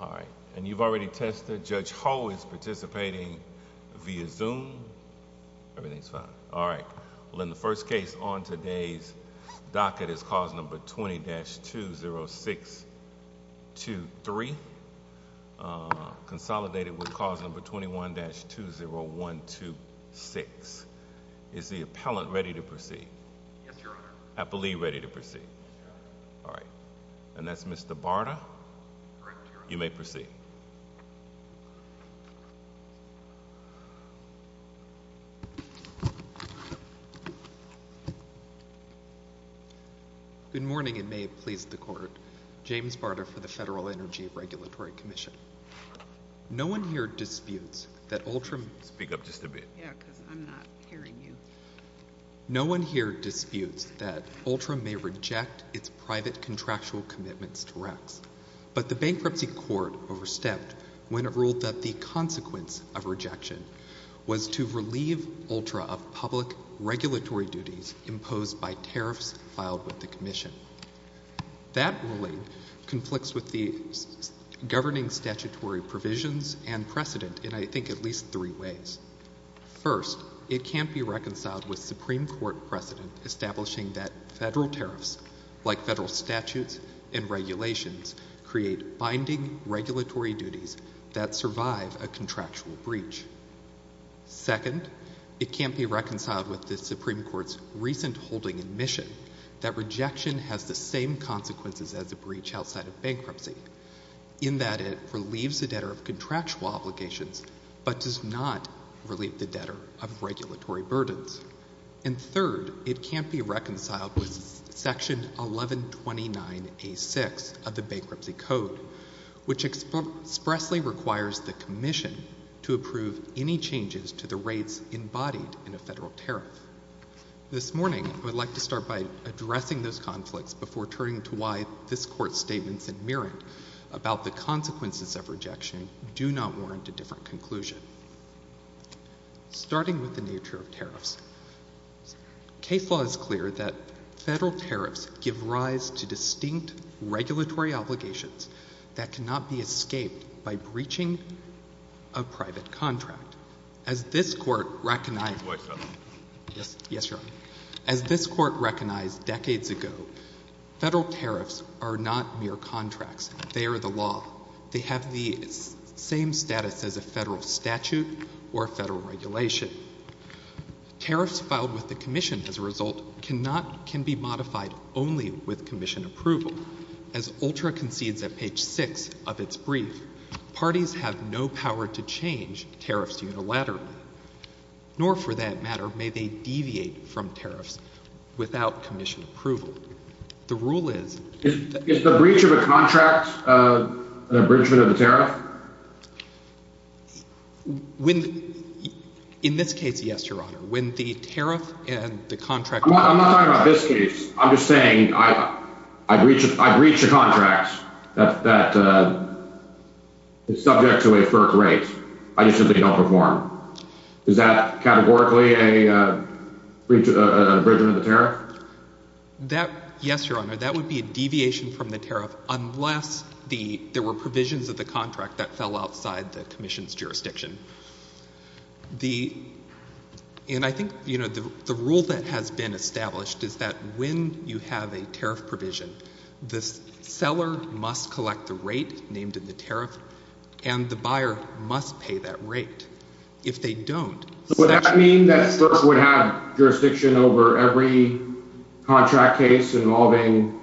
All right, and you've already tested. Judge Ho is participating via Zoom. Everything's fine. All right. Well, in the first case on today's docket is cause number 20-20623, consolidated with cause number 21-20126. Is the appellant ready to proceed? Yes, Your Honor. Appellee ready to proceed? Yes, Your Honor. All right. And that's Mr. Barta? Correct, Your Honor. You may proceed. Good morning, and may it please the Court. James Barta for the Federal Energy Regulatory Commission. No one here disputes that Ultram— Speak up just a bit. Yeah, because I'm not hearing you. No one here disputes that Ultra may reject its private contractual commitments to RECS, but the Bankruptcy Court overstepped when it ruled that the consequence of rejection was to relieve Ultra of public regulatory duties imposed by tariffs filed with the Commission. That ruling conflicts with the governing statutory provisions and precedent in, I think, at least three ways. First, it can't be reconciled with Supreme Court precedent establishing that federal tariffs, like federal statutes and regulations, create binding regulatory duties that survive a contractual breach. Second, it can't be reconciled with the Supreme Court's recent holding admission that rejection has the same consequences as a breach outside of bankruptcy, in that it relieves the debtor of contractual obligations but does not relieve the debtor of regulatory burdens. And third, it can't be reconciled with Section 1129A6 of the Bankruptcy Code, which expressly requires the Commission to approve any changes to the rates embodied in a federal tariff. This morning, I would like to start by addressing those conflicts before turning to why this consequences of rejection do not warrant a different conclusion. Starting with the nature of tariffs, case law is clear that federal tariffs give rise to distinct regulatory obligations that cannot be escaped by breaching a private contract. As this Court recognized decades ago, federal tariffs are not mere contracts. They are the law. They have the same status as a federal statute or a federal regulation. Tariffs filed with the Commission, as a result, cannot, can be modified only with Commission approval. As ULTRA concedes at page 6 of its brief, parties have no power to change tariffs unilaterally. Nor for that matter may they deviate from tariffs without Commission approval. The rule is... Is the breach of a contract an abridgment of the tariff? In this case, yes, Your Honor. When the tariff and the contract... I'm not talking about this case. I'm just saying I breach a contract that is subject to a FERC rate. I just simply don't perform. Is that categorically an abridgment of the tariff? That, yes, Your Honor, that would be a deviation from the tariff unless there were provisions of the contract that fell outside the Commission's jurisdiction. And I think, you know, the rule that has been established is that when you have a tariff provision, the seller must collect the rate named in the tariff, and the buyer must pay that rate. If they don't... So would that mean that FERC would have jurisdiction over every contract case involving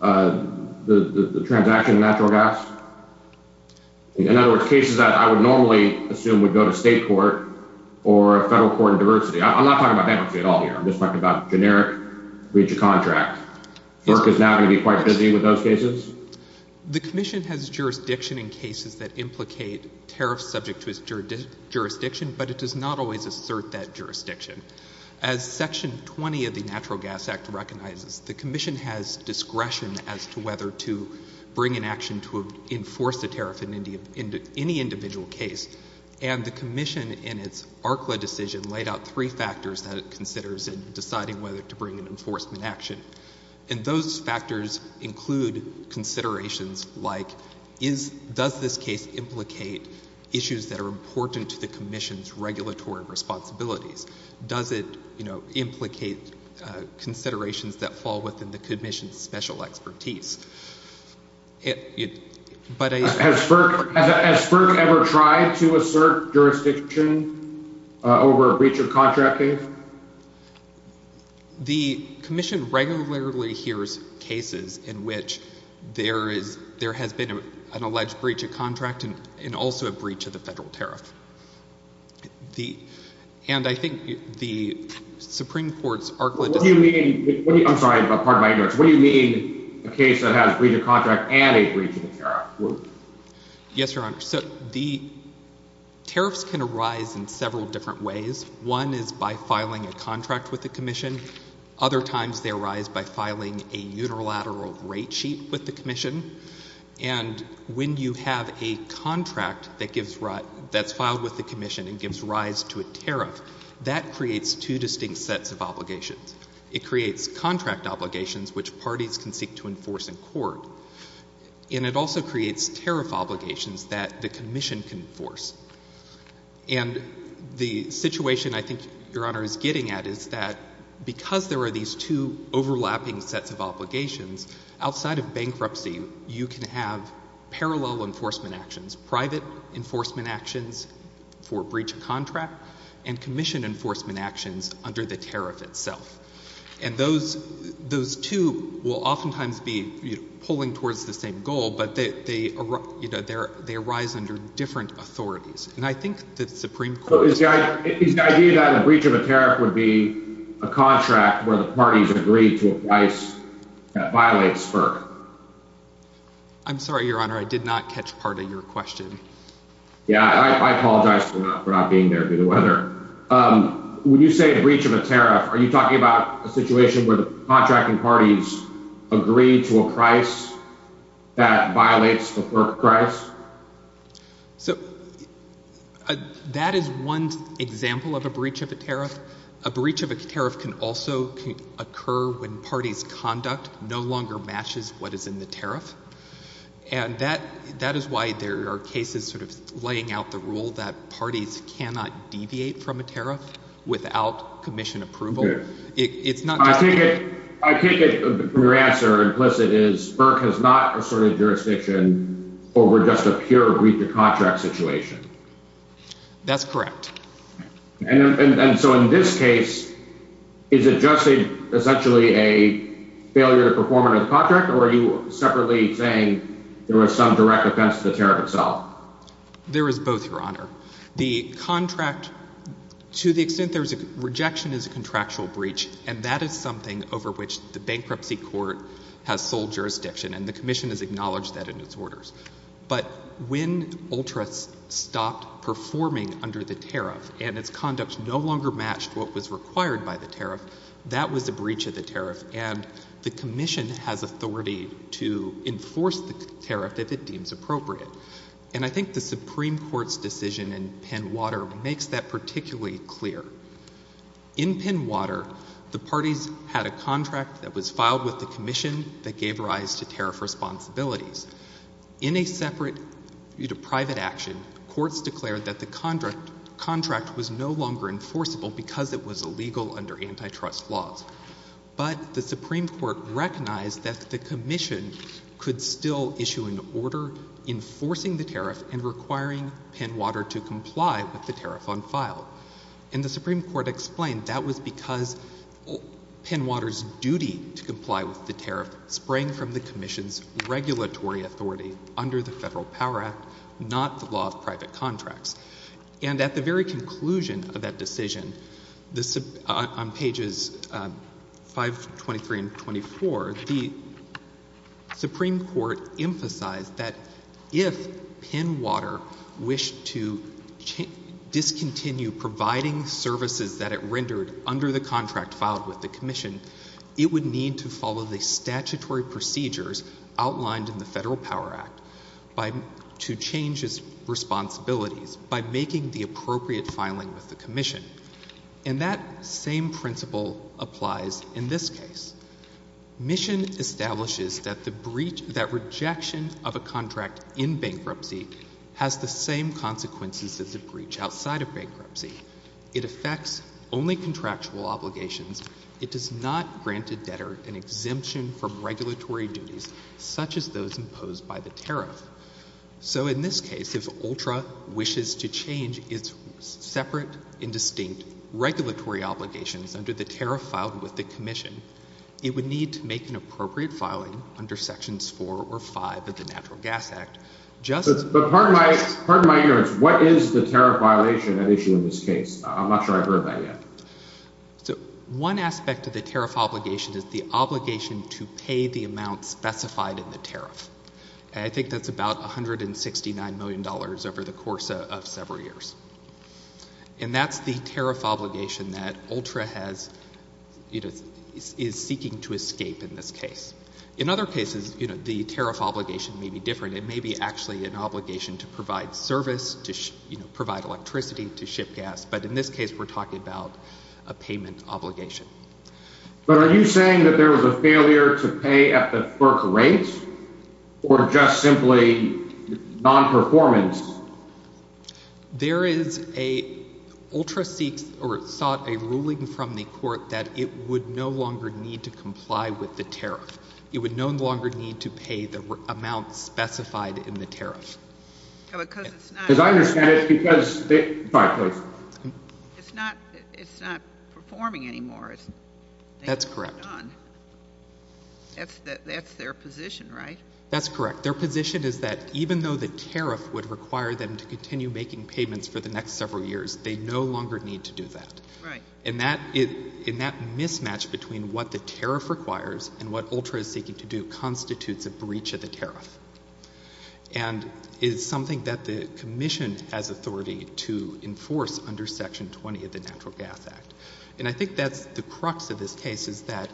the transaction of natural gas? In other words, cases that I would normally assume would go to state court or a federal court of diversity. I'm not talking about bankruptcy at all here. I'm just talking about generic breach of contract. FERC is now going to be quite busy with those cases? The Commission has jurisdiction in cases that implicate tariffs subject to its jurisdiction, but it does not always assert that jurisdiction. As Section 20 of the Natural Gas Act recognizes, the Commission has discretion as to whether to bring an action to enforce the tariff in any individual case. And the Commission, in its ARCLA decision, laid out three factors that it considers in deciding whether to bring an enforcement action. And those factors include considerations like, does this case implicate issues that are important to the Commission's regulatory responsibilities? Does it implicate considerations that fall within the Commission's special expertise? But I... Has FERC ever tried to assert jurisdiction over a breach of contract case? The Commission regularly hears cases in which there has been an alleged breach of contract and also a breach of the federal tariff. And I think the Supreme Court's ARCLA decision... What do you mean... I'm sorry, but pardon my ignorance. What do you mean a case that has a breach of contract and a breach of the tariff? Yes, Your Honor. So the tariffs can arise in several different ways. One is by filing a contract with the Commission. Other times they arise by filing a unilateral rate sheet with the Commission. And when you have a contract that gives rise... That's filed with the Commission and gives rise to a tariff, that creates two distinct sets of obligations. It creates contract obligations, which parties can seek to enforce in court, and it also creates tariff obligations that the Commission can enforce. And the situation I think Your Honor is getting at is that because there are these two overlapping sets of obligations, outside of bankruptcy, you can have parallel enforcement actions, private enforcement actions for breach of contract, and Commission enforcement actions under the tariff itself. And those two will oftentimes be pulling towards the same goal, but they arise under different authorities. And I think the Supreme Court... So is the idea that a breach of a tariff would be a contract where the parties agree to apply a price that violates FERC? I'm sorry, Your Honor. I did not catch part of your question. Yeah, I apologize for not being there due to weather. When you say a breach of a tariff, are you talking about a situation where the contracting parties agree to a price that violates the FERC price? So that is one example of a breach of a tariff. A breach of a tariff can also occur when parties' conduct no longer matches what is in the tariff. And that is why there are cases sort of laying out the rule that parties cannot deviate from a tariff without Commission approval. It's not... I take it your answer implicit is FERC has not asserted jurisdiction over just a pure breach of contract situation. That's correct. And so in this case, is it just essentially a failure to perform under the contract, or are you separately saying there was some direct offense to the tariff itself? There is both, Your Honor. The contract, to the extent there's a rejection as a contractual breach, and that is something over which the Bankruptcy Court has sole jurisdiction, and the Commission has acknowledged that in its orders. But when Ultras stopped performing under the tariff, and its conduct no longer matched what was required by the tariff, that was a breach of the tariff, and the Commission has authority to enforce the tariff if it deems appropriate. And I think the Supreme Court's decision in Penn-Water makes that particularly clear. In Penn-Water, the parties had a contract that was filed with the Commission that gave rise to tariff responsibilities. In a separate private action, courts declared that the contract was no longer enforceable because it was illegal under antitrust laws. But the Supreme Court recognized that the Commission could still issue an order enforcing the tariff and requiring Penn-Water to comply with the tariff on file. And the Supreme Court explained that was because Penn-Water's duty to comply with the tariff sprang from the Commission's regulatory authority under the Federal Power Act, not the law of private contracts. And at the very conclusion of that decision, on pages 523 and 524, the Supreme Court emphasized that if Penn-Water wished to discontinue providing services that it rendered under the contract filed with the Commission, it would need to follow the statutory procedures outlined in the Federal Power Act to change its responsibilities by making the appropriate filing with the Commission. And that same principle applies in this case. Mission establishes that the breach, that rejection of a contract in bankruptcy has the same consequences as a breach outside of bankruptcy. It affects only contractual obligations. It does not grant a debtor an exemption from regulatory duties such as those imposed by the tariff. So in this case, if ULTRA wishes to change its separate and distinct regulatory obligations under the tariff filed with the Commission, it would need to make an appropriate filing under Sections 4 or 5 of the Natural Gas Act, just as the Commission does. Pardon my ignorance, what is the tariff violation at issue in this case? I'm not sure I've heard that yet. One aspect of the tariff obligation is the obligation to pay the amount specified in the tariff. And I think that's about $169 million over the course of several years. And that's the tariff obligation that ULTRA has, you know, is seeking to escape in this case. In other cases, you know, the tariff obligation may be different. It may be actually an obligation to provide service, to, you know, provide electricity, to ship gas. But in this case, we're talking about a payment obligation. But are you saying that there was a failure to pay at the FERC rate or just simply non-performance? There is a ULTRA seeks or sought a ruling from the Court that it would no longer need to comply with the tariff. It would no longer need to pay the amount specified in the tariff. Because I understand it's because they — sorry, please. It's not performing anymore. That's correct. That's their position, right? That's correct. Their position is that even though the tariff would require them to continue making payments for the next several years, they no longer need to do that. And that mismatch between what the tariff requires and what ULTRA is seeking to do constitutes a breach of the tariff. And it's something that the Commission has authority to enforce under Section 20 of the Natural Gas Act. And I think that's the crux of this case, is that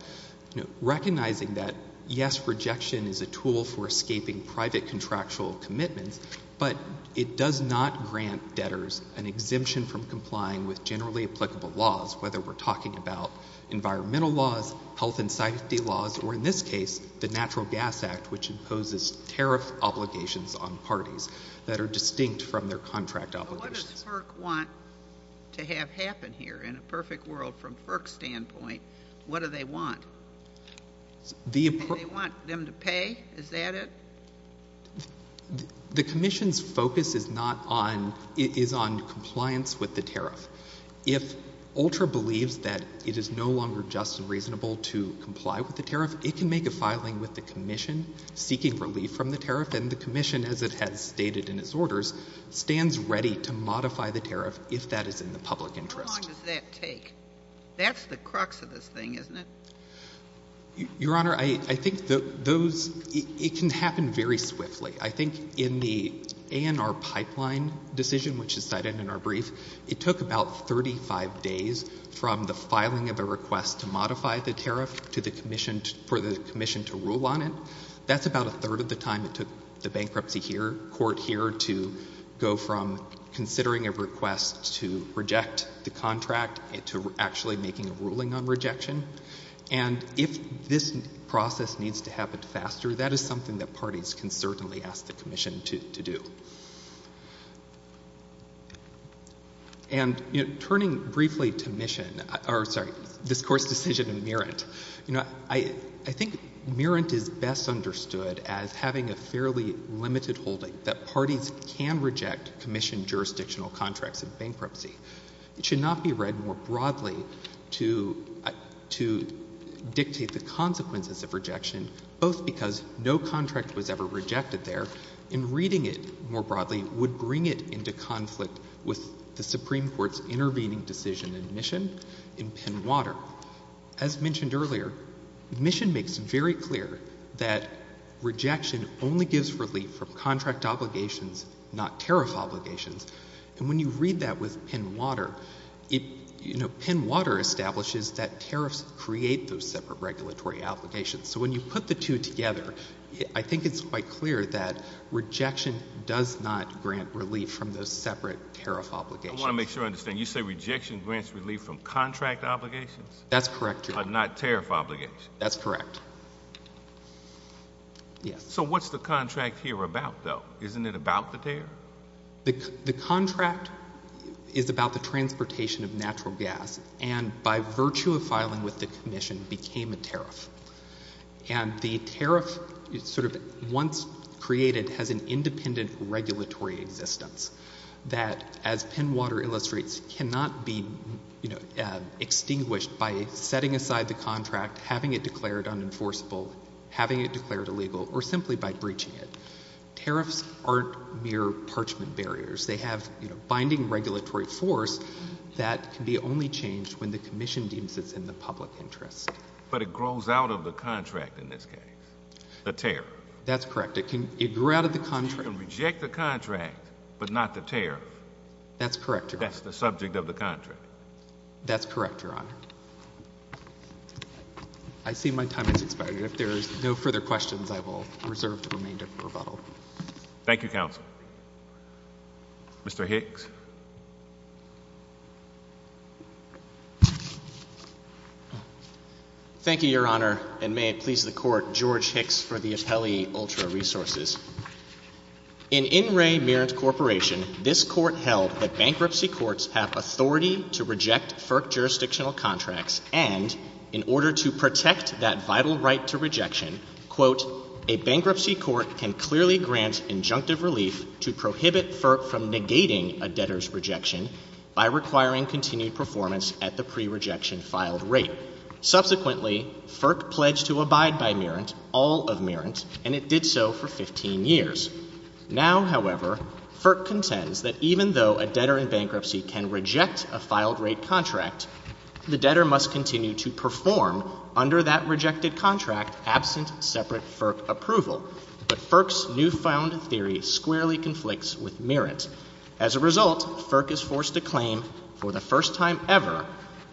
recognizing that, yes, rejection is a tool for escaping private contractual commitments, but it does not grant debtors an exemption from complying with generally applicable laws, whether we're talking about environmental laws, health and safety laws, or in this case, the Natural Gas Act, which imposes tariff obligations on parties that are distinct from their contract obligations. So what does FERC want to have happen here? In a perfect world, from FERC's standpoint, what do they want? The — Do they want them to pay? Is that it? The Commission's focus is not on — is on compliance with the tariff. If ULTRA believes that it is no longer just and reasonable to comply with the tariff, it can make a filing with the Commission seeking relief from the tariff, and the Commission, as it has stated in its orders, stands ready to modify the tariff if that is in the public interest. How long does that take? That's the crux of this thing, isn't it? Your Honor, I think those — it can happen very swiftly. I think in the ANR pipeline decision, which is cited in our brief, it took about 35 days from the filing of a request to modify the tariff to the Commission — for the Commission to rule on it. That's about a third of the time it took the bankruptcy here — court here to go from considering a request to reject the contract to actually making a ruling on rejection. And if this process needs to happen faster, that is something that parties can certainly ask the Commission to do. And turning briefly to Mission — or, sorry, this Court's decision in Merrant, you know, I think Merrant is best understood as having a fairly limited holding that parties can reject Commission jurisdictional contracts in bankruptcy. It should not be read more broadly to dictate the consequences of rejection, both because no contract was ever rejected there, and reading it more broadly would bring it into conflict with the Supreme Court's intervening decision in Mission, in Penn-Water. As mentioned earlier, Mission makes very clear that rejection only gives relief from contract obligations, not tariff obligations. And when you read that with Penn-Water, it — you know, Penn-Water establishes that tariffs create those separate regulatory obligations. So when you put the two together, I think it's quite clear that rejection does not grant relief from those separate tariff obligations. I want to make sure I understand. You say rejection grants relief from contract obligations? That's correct, Your Honor. Not tariff obligations? That's correct. Yes. So what's the contract here about, though? Isn't it about the tariff? The contract is about the transportation of natural gas, and by virtue of filing with the Commission, became a tariff. And the tariff sort of once created has an independent regulatory existence that, as Penn-Water illustrates, cannot be, you know, extinguished by setting aside the contract, having it declared unenforceable, having it declared illegal, or simply by breaching it. Tariffs aren't mere parchment barriers. They have, you know, binding regulatory force that can be only changed when the Commission deems it's in the public interest. But it grows out of the contract in this case, the tariff. That's correct. It can — it grew out of the contract. So you can reject the contract, but not the tariff. That's correct, Your Honor. That's the subject of the contract. That's correct, Your Honor. I see my time has expired. If there's no further questions, I will reserve the remainder of the rebuttal. Thank you, Counsel. Mr. Hicks. Thank you, Your Honor, and may it please the Court, George Hicks for the appellee, Ultra Resources. In In Re Merit Corporation, this Court held that bankruptcy courts have authority to reject that vital right to rejection, quote, a bankruptcy court can clearly grant injunctive relief to prohibit FERC from negating a debtor's rejection by requiring continued performance at the pre-rejection filed rate. Subsequently, FERC pledged to abide by Merit, all of Merit, and it did so for 15 years. Now, however, FERC contends that even though a debtor in bankruptcy can reject a filed rate contract, the debtor must continue to perform under that rejected contract absent separate FERC approval, but FERC's newfound theory squarely conflicts with Merit. As a result, FERC is forced to claim for the first time ever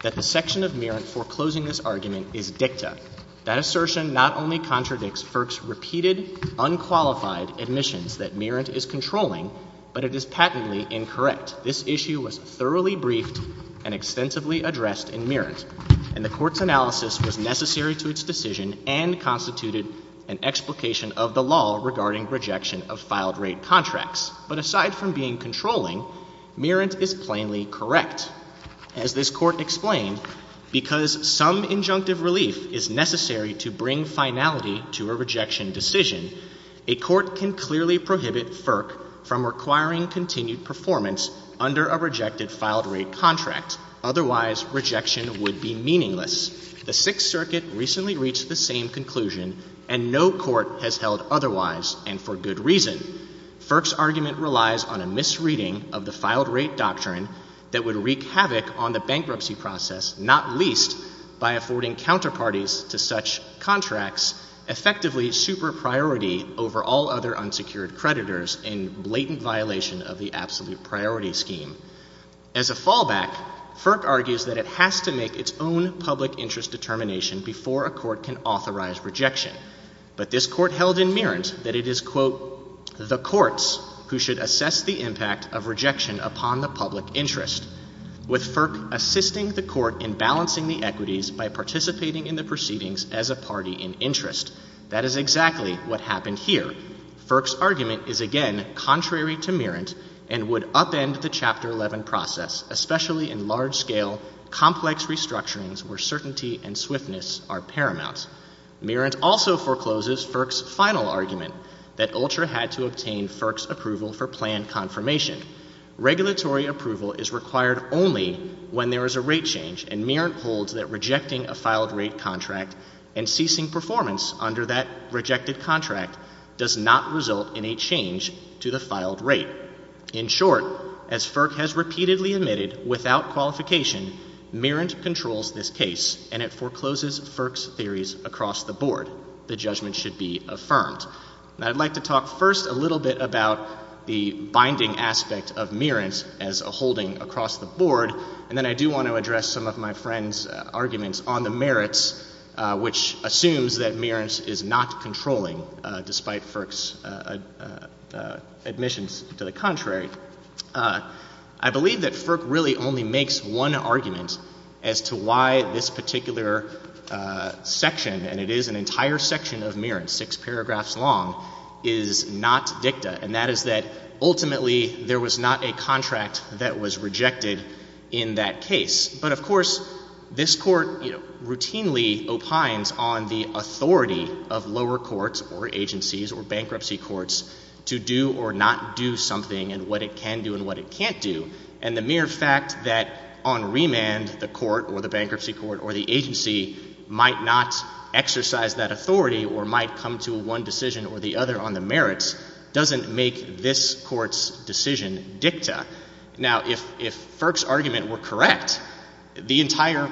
that the section of Merit foreclosing this argument is dicta. That assertion not only contradicts FERC's repeated, unqualified admissions that Merit is controlling, but it is patently incorrect. But this issue was thoroughly briefed and extensively addressed in Merit, and the Court's analysis was necessary to its decision and constituted an explication of the law regarding rejection of filed rate contracts. But aside from being controlling, Merit is plainly correct. As this Court explained, because some injunctive relief is necessary to bring finality to a under a rejected filed rate contract. Otherwise, rejection would be meaningless. The Sixth Circuit recently reached the same conclusion, and no court has held otherwise, and for good reason. FERC's argument relies on a misreading of the filed rate doctrine that would wreak havoc on the bankruptcy process, not least by affording counterparties to such contracts, effectively super priority over all other unsecured creditors in blatant violation of the absolute priority scheme. As a fallback, FERC argues that it has to make its own public interest determination before a court can authorize rejection. But this Court held in Merit that it is, quote, the courts who should assess the impact of rejection upon the public interest, with FERC assisting the court in balancing the equities by participating in the proceedings as a party in interest. That is exactly what happened here. FERC's argument is, again, contrary to Merit and would upend the Chapter 11 process, especially in large-scale, complex restructurings where certainty and swiftness are paramount. Merit also forecloses FERC's final argument, that ULTRA had to obtain FERC's approval for planned confirmation. Regulatory approval is required only when there is a rate change, and Merit holds that this does not result in a change to the filed rate. In short, as FERC has repeatedly admitted, without qualification, Merit controls this case and it forecloses FERC's theories across the board. The judgment should be affirmed. Now, I'd like to talk first a little bit about the binding aspect of Merit as a holding across the board, and then I do want to address some of my friend's arguments on the Merit, which is FERC's admissions to the contrary. I believe that FERC really only makes one argument as to why this particular section, and it is an entire section of Merit, six paragraphs long, is not dicta, and that is that, ultimately, there was not a contract that was rejected in that case. But of course, this Court routinely opines on the authority of lower courts or agencies or bankruptcy courts to do or not do something and what it can do and what it can't do, and the mere fact that on remand the court or the bankruptcy court or the agency might not exercise that authority or might come to one decision or the other on the Merit doesn't make this Court's decision dicta. Now, if FERC's argument were correct, the entire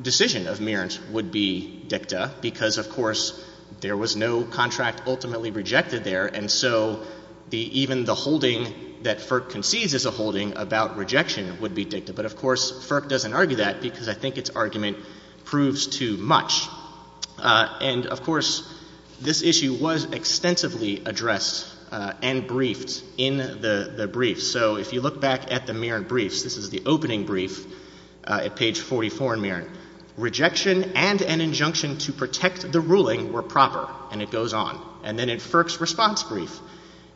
decision of Merit would be dicta because, of course, there was no contract ultimately rejected there, and so even the holding that FERC concedes is a holding about rejection would be dicta. But of course, FERC doesn't argue that because I think its argument proves too much. And of course, this issue was extensively addressed and briefed in the briefs. So if you look back at the Merit briefs, this is the opening brief at page 44 in Merit. Rejection and an injunction to protect the ruling were proper, and it goes on. And then in FERC's response brief,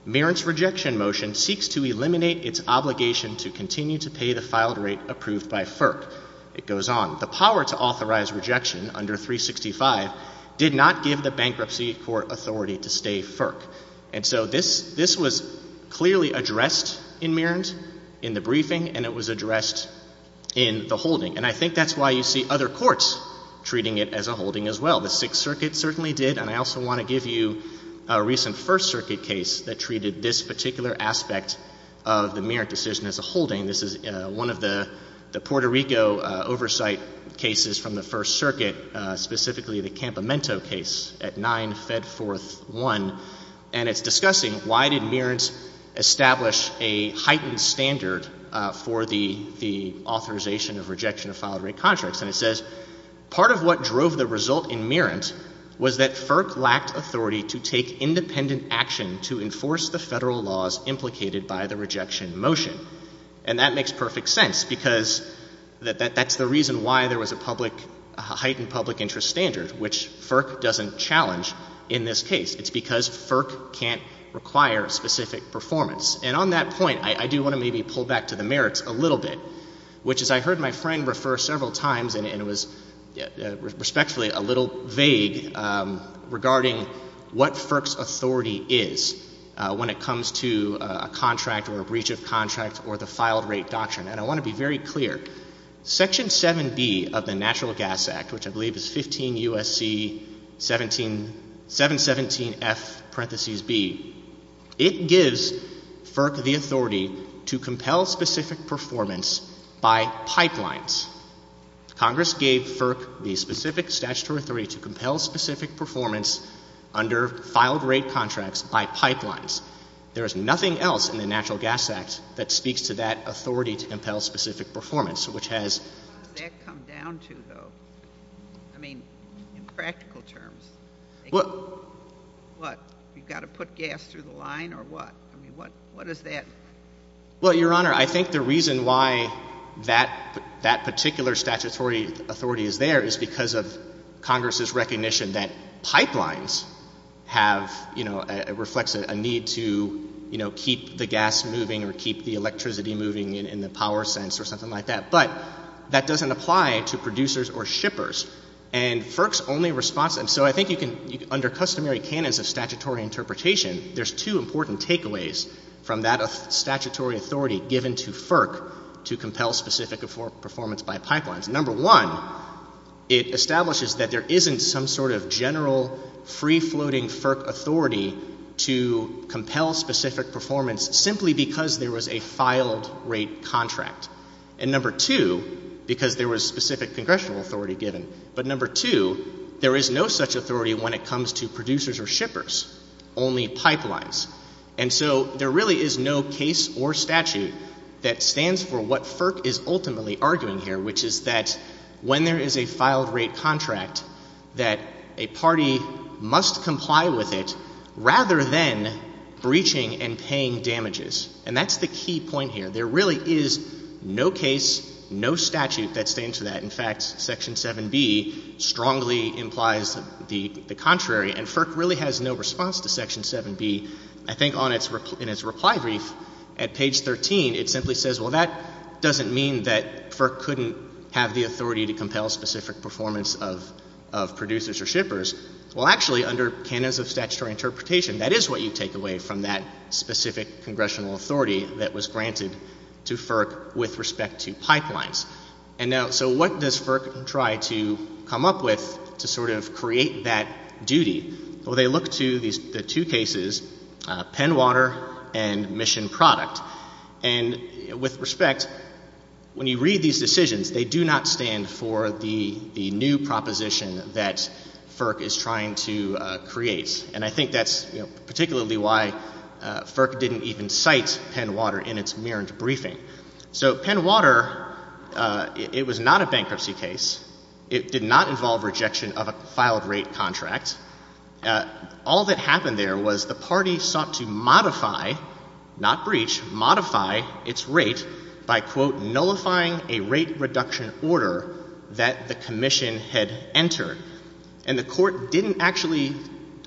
Merit's rejection motion seeks to eliminate its obligation to continue to pay the filed rate approved by FERC. It goes on. The power to authorize rejection under 365 did not give the bankruptcy court authority to stay FERC. And so this was clearly addressed in Merit, in the briefing, and it was addressed in the holding. And I think that's why you see other courts treating it as a holding as well. The Sixth Circuit certainly did, and I also want to give you a recent First Circuit case that treated this particular aspect of the Merit decision as a holding. This is one of the Puerto Rico oversight cases from the First Circuit, specifically the Campamento case at 9 Fedforth 1. And it's discussing why did Merit establish a heightened standard for the authorization of rejection of filed rate contracts, and it says, part of what drove the result in Merit was that FERC lacked authority to take independent action to enforce the federal laws implicated by the rejection motion. And that makes perfect sense, because that's the reason why there was a heightened public interest standard, which FERC doesn't challenge in this case. It's because FERC can't require specific performance. And on that point, I do want to maybe pull back to the Merit's a little bit, which as I heard my friend refer several times, and it was respectfully a little vague, regarding what FERC's authority is when it comes to a contract or a breach of contract or the filed rate doctrine. And I want to be very clear. Section 7B of the Natural Gas Act, which I believe is 15 U.S.C. 717F parentheses B, it is about pipelines. Congress gave FERC the specific statutory authority to compel specific performance under filed rate contracts by pipelines. There is nothing else in the Natural Gas Act that speaks to that authority to compel specific performance, which has — What does that come down to, though? I mean, in practical terms — What? What? You've got to put gas through the line or what? I mean, what is that — Well, Your Honor, I think the reason why that — that particular statutory authority is there is because of Congress's recognition that pipelines have — you know, it reflects a need to, you know, keep the gas moving or keep the electricity moving in the power sense or something like that. But that doesn't apply to producers or shippers. And FERC's only response — and so I think you can — under customary canons of statutory interpretation, there's two important takeaways from that statutory authority given to FERC to compel specific performance by pipelines. Number one, it establishes that there isn't some sort of general free-floating FERC authority to compel specific performance simply because there was a filed rate contract. And number two, because there was specific congressional authority given. But number two, there is no such authority when it comes to producers or shippers, only pipelines. And so there really is no case or statute that stands for what FERC is ultimately arguing here, which is that when there is a filed rate contract, that a party must comply with it rather than breaching and paying damages. And that's the key point here. There really is no case, no statute that stands for that. In fact, Section 7B strongly implies the contrary. And FERC really has no response to Section 7B. I think in its reply brief at page 13, it simply says, well, that doesn't mean that FERC couldn't have the authority to compel specific performance of producers or shippers. Well, actually, under canons of statutory interpretation, that is what you take away from that specific congressional authority that was granted to FERC with respect to pipelines. And now, so what does FERC try to come up with to sort of create that duty? Well, they look to the two cases, Penwater and Mission Product. And with respect, when you read these decisions, they do not stand for the new proposition that FERC is trying to create. And I think that's particularly why FERC didn't even cite Penwater in its mirrored briefing. So Penwater, it was not a bankruptcy case. It did not involve rejection of a filed rate contract. All that happened there was the party sought to modify, not breach, modify its rate by quote nullifying a rate reduction order that the commission had entered. And the court didn't actually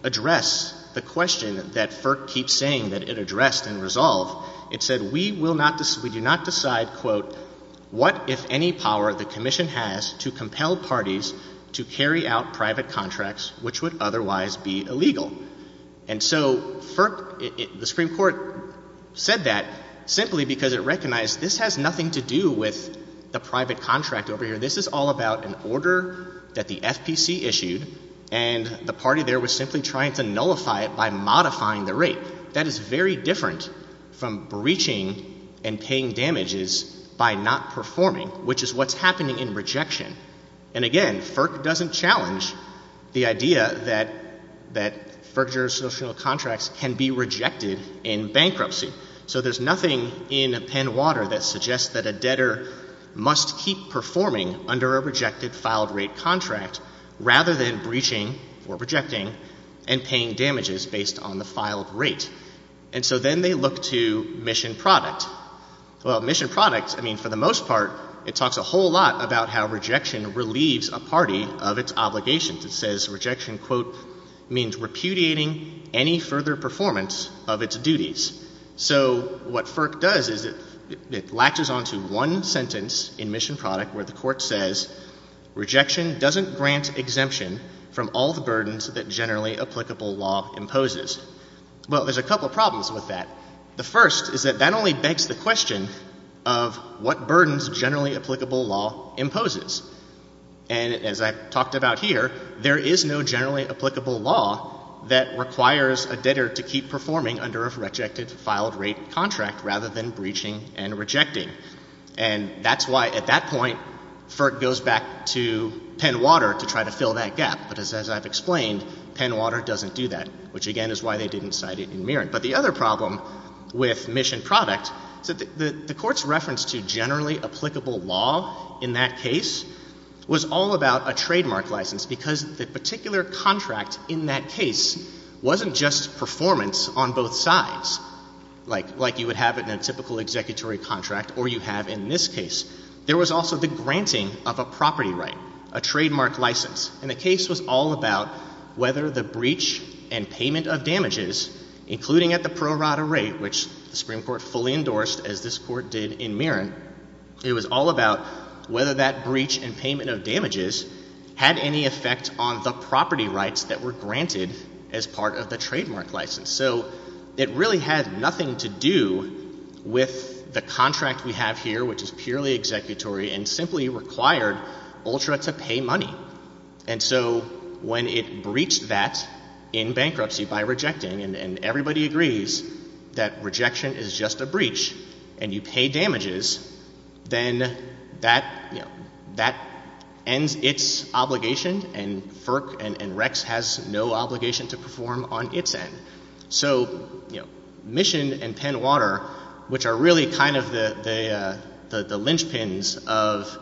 address the question that FERC keeps saying that it addressed and resolved. It said we will not, we do not decide quote what if any power the commission has to compel parties to carry out private contracts which would otherwise be illegal. And so FERC, the Supreme Court said that simply because it recognized this has nothing to do with the private contract over here. This is all about an order that the FPC issued and the party there was simply trying to nullify it by modifying the rate. That is very different from breaching and paying damages by not performing which is what's happening in rejection. And again, FERC doesn't challenge the idea that FERC jurisdictional contracts can be rejected in bankruptcy. So there's nothing in Penwater that suggests that a debtor must keep performing under a rejected filed rate contract rather than breaching or rejecting and paying damages based on the filed rate. And so then they look to mission product. Well mission product, I mean for the most part it talks a whole lot about how rejection relieves a party of its obligations. It says rejection quote means repudiating any further performance of its duties. So what FERC does is it latches onto one sentence in mission product that generally applicable law imposes. Well there's a couple problems with that. The first is that that only begs the question of what burdens generally applicable law imposes. And as I've talked about here, there is no generally applicable law that requires a debtor to keep performing under a rejected filed rate contract rather than breaching and rejecting. And that's why at that point FERC goes back to Penwater to try to fill that gap. But as I've explained, Penwater doesn't do that, which again is why they didn't cite it in Mirren. But the other problem with mission product is that the court's reference to generally applicable law in that case was all about a trademark license because the particular contract in that case wasn't just performance on both sides, like you would have in a typical executory contract or you have in this case. There was also the granting of a property right, a trademark license. And the case was all about whether the breach and payment of damages, including at the pro rata rate, which the Supreme Court fully endorsed as this court did in Mirren, it was all about whether that breach and payment of damages had any effect on the property rights that were granted as part of the trademark license. So it really had nothing to do with the contract we have here, which is purely executory and simply required Ultra to pay money. And so when it breached that in bankruptcy by rejecting and everybody agrees that rejection is just a breach and you pay damages, then that ends its obligation and FERC and Rex has no obligation to perform on its end. So, you know, Mission and Penwater, which are really kind of the linchpins of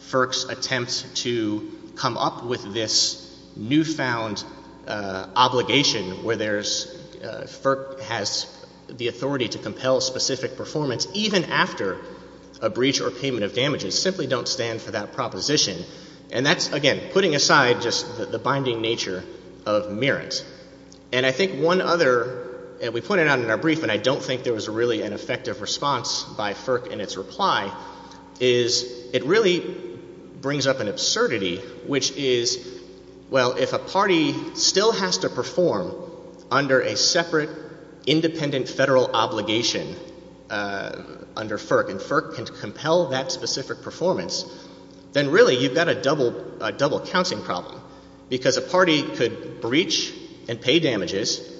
FERC's attempt to come up with this newfound obligation where there's, FERC has the authority to compel specific performance even after a breach or payment of damages, simply don't stand for that proposition. And that's, again, putting aside just the binding nature of Mirrens. And I think one other, and we pointed out in our brief and I don't think there was really an effective response by FERC in its reply is it really brings up an absurdity, which is, well, if a party still has to perform under a separate independent federal obligation under FERC and FERC can compel that specific performance, then really you've got a double, a double counting problem because a party could breach and pay damages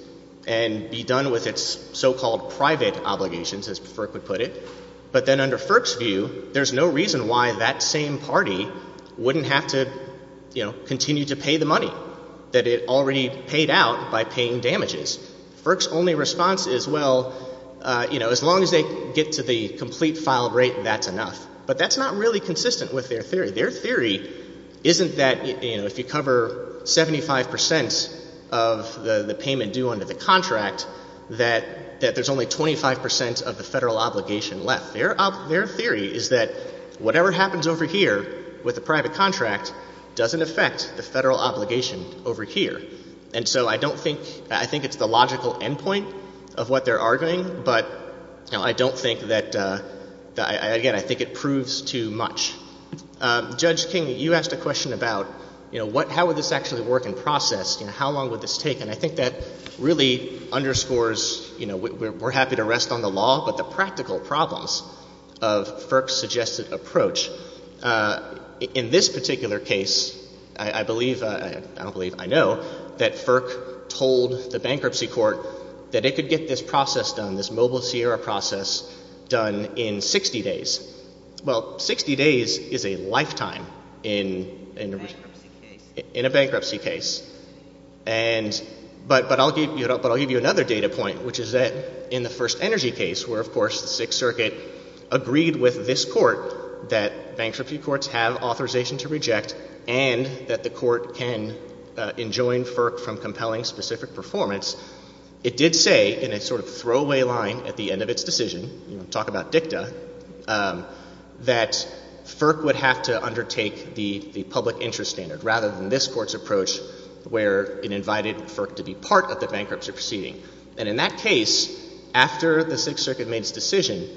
and be done with its so-called private obligations, as FERC would put it. But then under FERC's view, there's no reason why that same party wouldn't have to, you know, continue to pay the money that it already paid out by paying damages. FERC's only response is, well, you know, as long as they get to the complete filed rate, that's enough. But that's not really consistent with their theory. Their theory isn't that, you know, if you cover 75% of the payment due under the contract that there's only 25% of the federal obligation left. Their theory is that whatever happens over here with the private contract doesn't affect the federal obligation over here. And so I don't think, I think it's the logical endpoint of what they're arguing, but, you know, I don't think that, again, I think it proves too much. Judge King, you asked a question about, you know, what, how would this actually work in process, you know, how long would this take? And I think that really underscores, you know, we're happy to rest on the law, but the practical problems of FERC's suggested approach, in this particular case, I believe, I don't believe, I know, that FERC told the bankruptcy court that it could get this process done, this Mobile Sierra process done in 60 days. Well, 60 days is a lifetime in a bankruptcy case. And, but I'll give you another data point, which is that in the first energy case, where of course the Sixth Circuit agreed with this court that bankruptcy courts have authorization to reject and that the court can enjoin FERC from compelling specific performance, it did say, in a sort of throwaway line at the end of its decision, you know, talk about dicta, that FERC would have to undertake the public interest standard, rather than this court's approach, where it invited FERC to be part of the bankruptcy proceeding. And in that case, after the Sixth Circuit made its decision,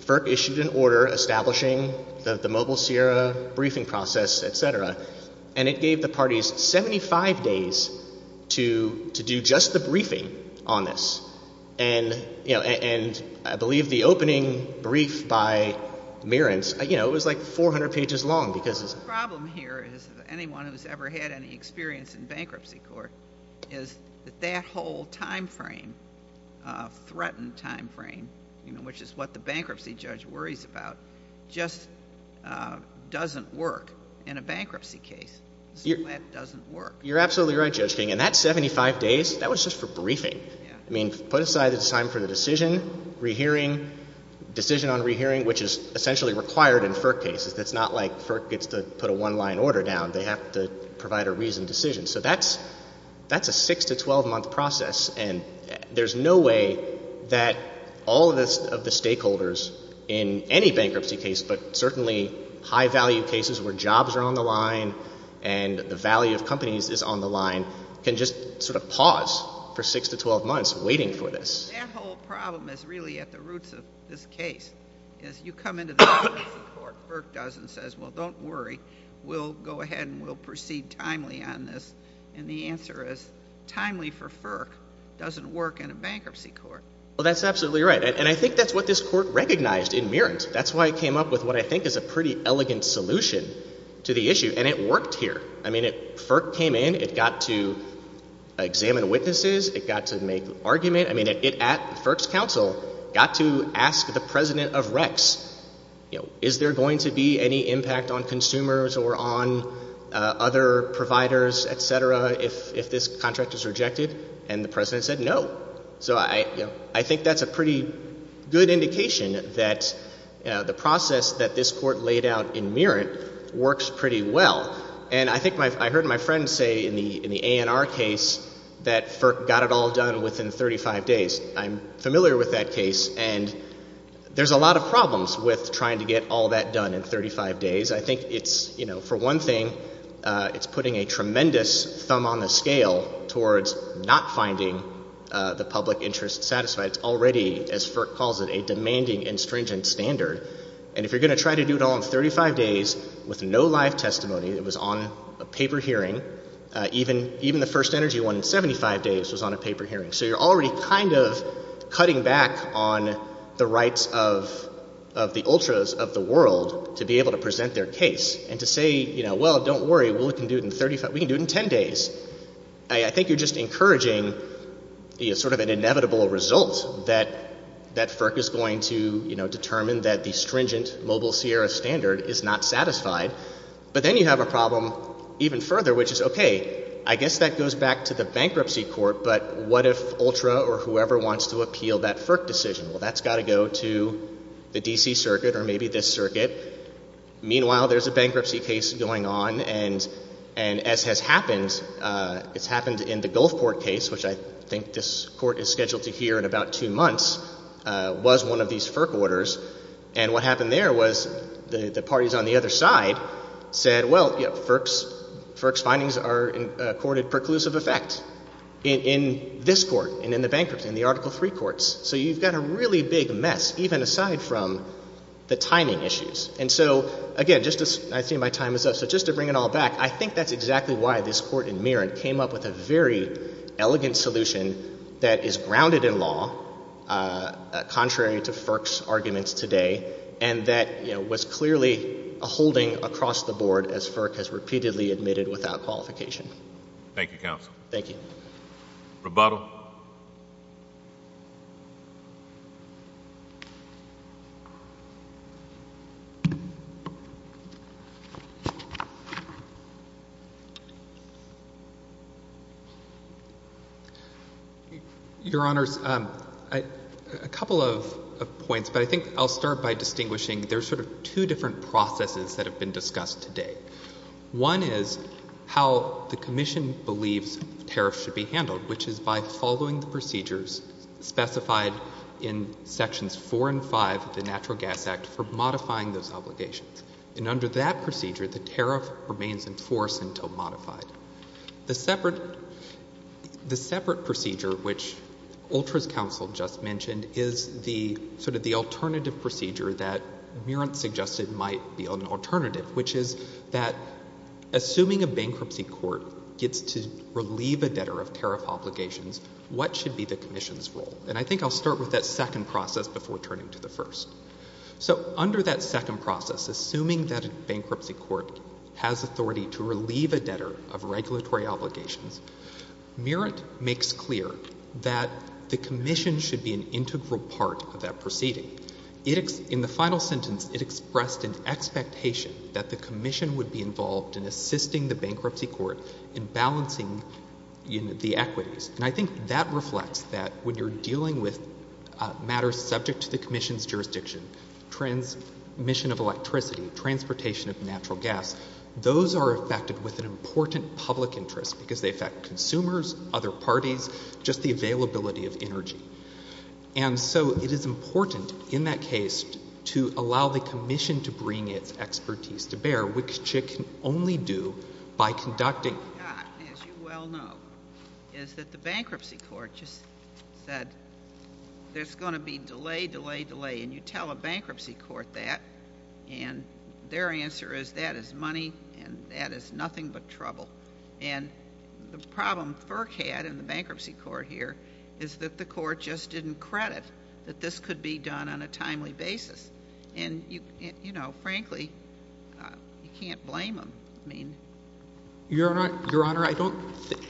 FERC issued an order establishing the Mobile Sierra briefing process, et cetera, and it gave the parties 75 days to do just the briefing on this. And, you know, and I believe the opening brief by Merentz, you know, it was like 400 pages long, because it's. The problem here is that anyone who's ever had any experience in bankruptcy court is that that whole time frame, threatened time frame, you know, which is what the bankruptcy judge worries about, just doesn't work in a bankruptcy case. So that doesn't work. You're absolutely right, Judge King, and that 75 days, that was just for briefing. Yeah. I mean, put aside the time for the decision, rehearing, decision on rehearing, which is essentially required in FERC cases. It's not like FERC gets to put a one-line order down. They have to provide a reasoned decision. So that's a 6 to 12-month process, and there's no way that all of the stakeholders in any bankruptcy case, but certainly high-value cases where jobs are on the line, and the value of companies is on the line, can just sort of pause for 6 to 12 months waiting for this. That whole problem is really at the roots of this case. As you come into the bankruptcy court, FERC does and says, well, don't worry. We'll go ahead, and we'll proceed timely on this, and the answer is, timely for FERC doesn't work in a bankruptcy court. Well, that's absolutely right. And I think that's what this court recognized in Merent. That's why it came up with what I think is a pretty elegant solution to the issue, and it worked here. I mean, FERC came in. It got to examine witnesses. It got to make argument. I mean, it, at FERC's counsel, got to ask the president of Rex, you know, is there going to be any impact on consumers or on other providers, et cetera, if this contract is rejected, and the president said no. So I, you know, I think that's a pretty good indication that, you know, the process that this court laid out in Merent works pretty well. And I think my, I heard my friend say in the, in the ANR case that FERC got it all done within 35 days. I'm familiar with that case, and there's a lot of problems with trying to get all that done in 35 days. I think it's, you know, for one thing, it's putting a tremendous thumb on the scale towards not finding the public interest satisfied. It's already, as FERC calls it, a demanding and stringent standard. And if you're going to try to do it all in 35 days with no live testimony, it was on a paper hearing, even the first energy one in 75 days was on a paper hearing. So you're already kind of cutting back on the rights of the ultras of the world to be able to present their case and to say, you know, well, don't worry. We can do it in 35, we can do it in 10 days. I think you're just encouraging, you know, sort of an inevitable result that, that FERC is going to, you know, determine that the stringent mobile Sierra standard is not satisfied. But then you have a problem even further, which is, okay, I guess that goes back to the bankruptcy court, but what if ultra or whoever wants to appeal that FERC decision, well, that's got to go to the DC circuit or maybe this circuit. Meanwhile, there's a bankruptcy case going on and, and as has happened, it's happened in the Gulf Court case, which I think this court is scheduled to hear in about two months, was one of these FERC orders. And what happened there was the, the parties on the other side said, well, you know, FERC's, FERC's findings are accorded preclusive effect in, in this court and in the bankruptcy, in the Article III courts. So you've got a really big mess, even aside from the timing issues. And so, again, just as I see my time is up, so just to bring it all back, I think that's exactly why this court in Merritt came up with a very elegant solution that is grounded in law, contrary to FERC's arguments today. And that, you know, was clearly a holding across the board as FERC has repeatedly admitted without qualification. Thank you, counsel. Thank you. Rebuttal. Your Honors, I, a couple of, of points, but I think I'll start by distinguishing, there's sort of two different processes that have been discussed today. One is how the commission believes tariffs should be handled, which is by following the procedures specified in Sections 4 and 5 of the Natural Gas Act for modifying those obligations. And under that procedure, the tariff remains in force until modified. The separate, the separate procedure, which Ultra's counsel just mentioned, is the, sort of the alternative procedure that Merritt suggested might be an alternative, which is that assuming a bankruptcy court gets to relieve a debtor of tariff obligations, what should be the commission's role? And I think I'll start with that second process before turning to the first. So under that second process, assuming that a bankruptcy court has authority to relieve a debtor of regulatory obligations, Merritt makes clear that the commission should be an integral part of that proceeding. In the final sentence, it expressed an expectation that the commission would be involved in assisting the bankruptcy court in balancing the equities. And I think that reflects that when you're dealing with matters subject to the commission's jurisdiction, transmission of electricity, transportation of natural gas, those are affected with an important public interest because they affect consumers, other parties, just the availability of energy. And so it is important in that case to allow the commission to bring its expertise to bear, which it can only do by conducting. As you well know, is that the bankruptcy court just said, there's going to be delay, delay, delay. And you tell a bankruptcy court that, and their answer is that is money and that is nothing but trouble. And the problem FERC had in the bankruptcy court here is that the court just didn't credit that this could be done on a timely basis. And you know, frankly, you can't blame them. I mean. Your Honor, I don't,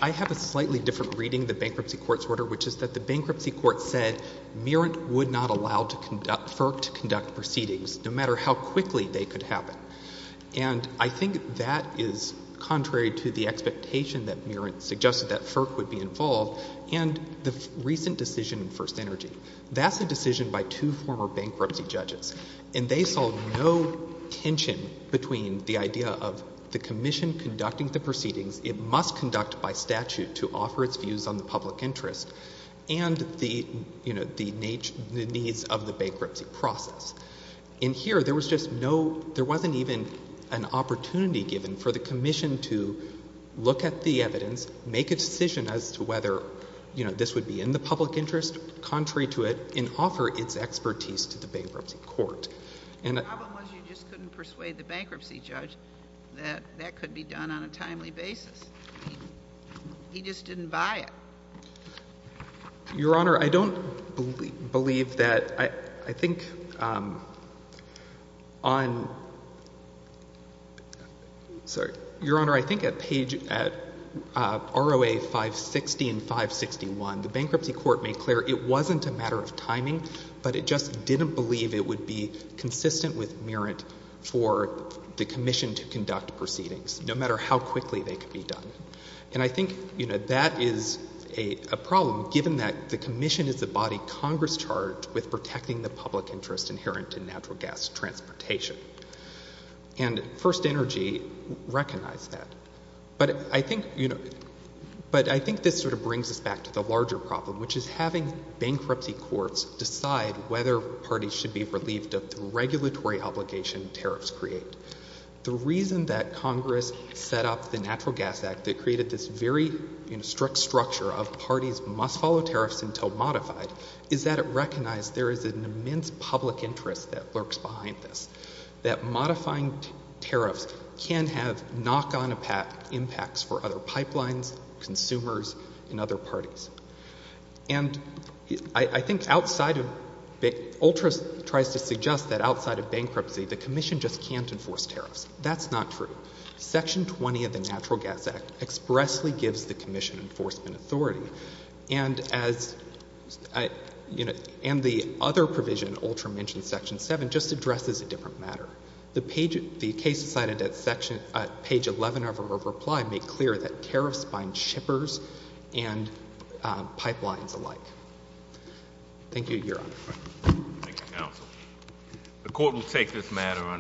I have a slightly different reading of the bankruptcy court's order, which is that the bankruptcy court said Merritt would not allow to conduct, FERC to conduct proceedings, no matter how quickly they could happen. And I think that is contrary to the expectation that Merritt suggested that FERC would be involved and the recent decision in First Energy. That's a decision by two former bankruptcy judges. And they saw no tension between the idea of the commission conducting the proceedings, it must conduct by statute to offer its views on the public interest and the, you know, the needs of the bankruptcy process. In here, there was just no, there wasn't even an opportunity given for the commission to look at the evidence, make a decision as to whether, you know, this would be in the public interest, contrary to it, and offer its expertise to the bankruptcy court. And the problem was you just couldn't persuade the bankruptcy judge that that could be done on a timely basis. He just didn't buy it. Your Honour, I don't believe that, I think, on, sorry, Your Honour, I think at page, at ROA 560 and 561, the bankruptcy court made clear it wasn't a matter of timing, but it just didn't believe it would be consistent with Merritt for the commission to conduct proceedings, no matter how quickly they could be done. And I think, you know, that is a problem, given that the commission is the body Congress charged with protecting the public interest inherent in natural gas transportation. And First Energy recognized that. But I think, you know, but I think this sort of brings us back to the larger problem, which is having bankruptcy courts decide whether parties should be relieved of the regulatory obligation tariffs create. The reason that Congress set up the Natural Gas Act that created this very, you know, strict structure of parties must follow tariffs until modified is that it recognized there is an immense public interest that lurks behind this, that modifying tariffs can have knock-on impacts for other pipelines, consumers, and other parties. And I think outside of, ULTRA tries to suggest that outside of bankruptcy, the commission just can't enforce tariffs. That's not true. Section 20 of the Natural Gas Act expressly gives the commission enforcement authority. And as, you know, and the other provision, ULTRA mentions Section 7, just addresses a different matter. The page, the case cited at page 11 of her reply made clear that tariffs bind shippers and pipelines alike. Thank you, Your Honor. Thank you, counsel. The court will take this matter on.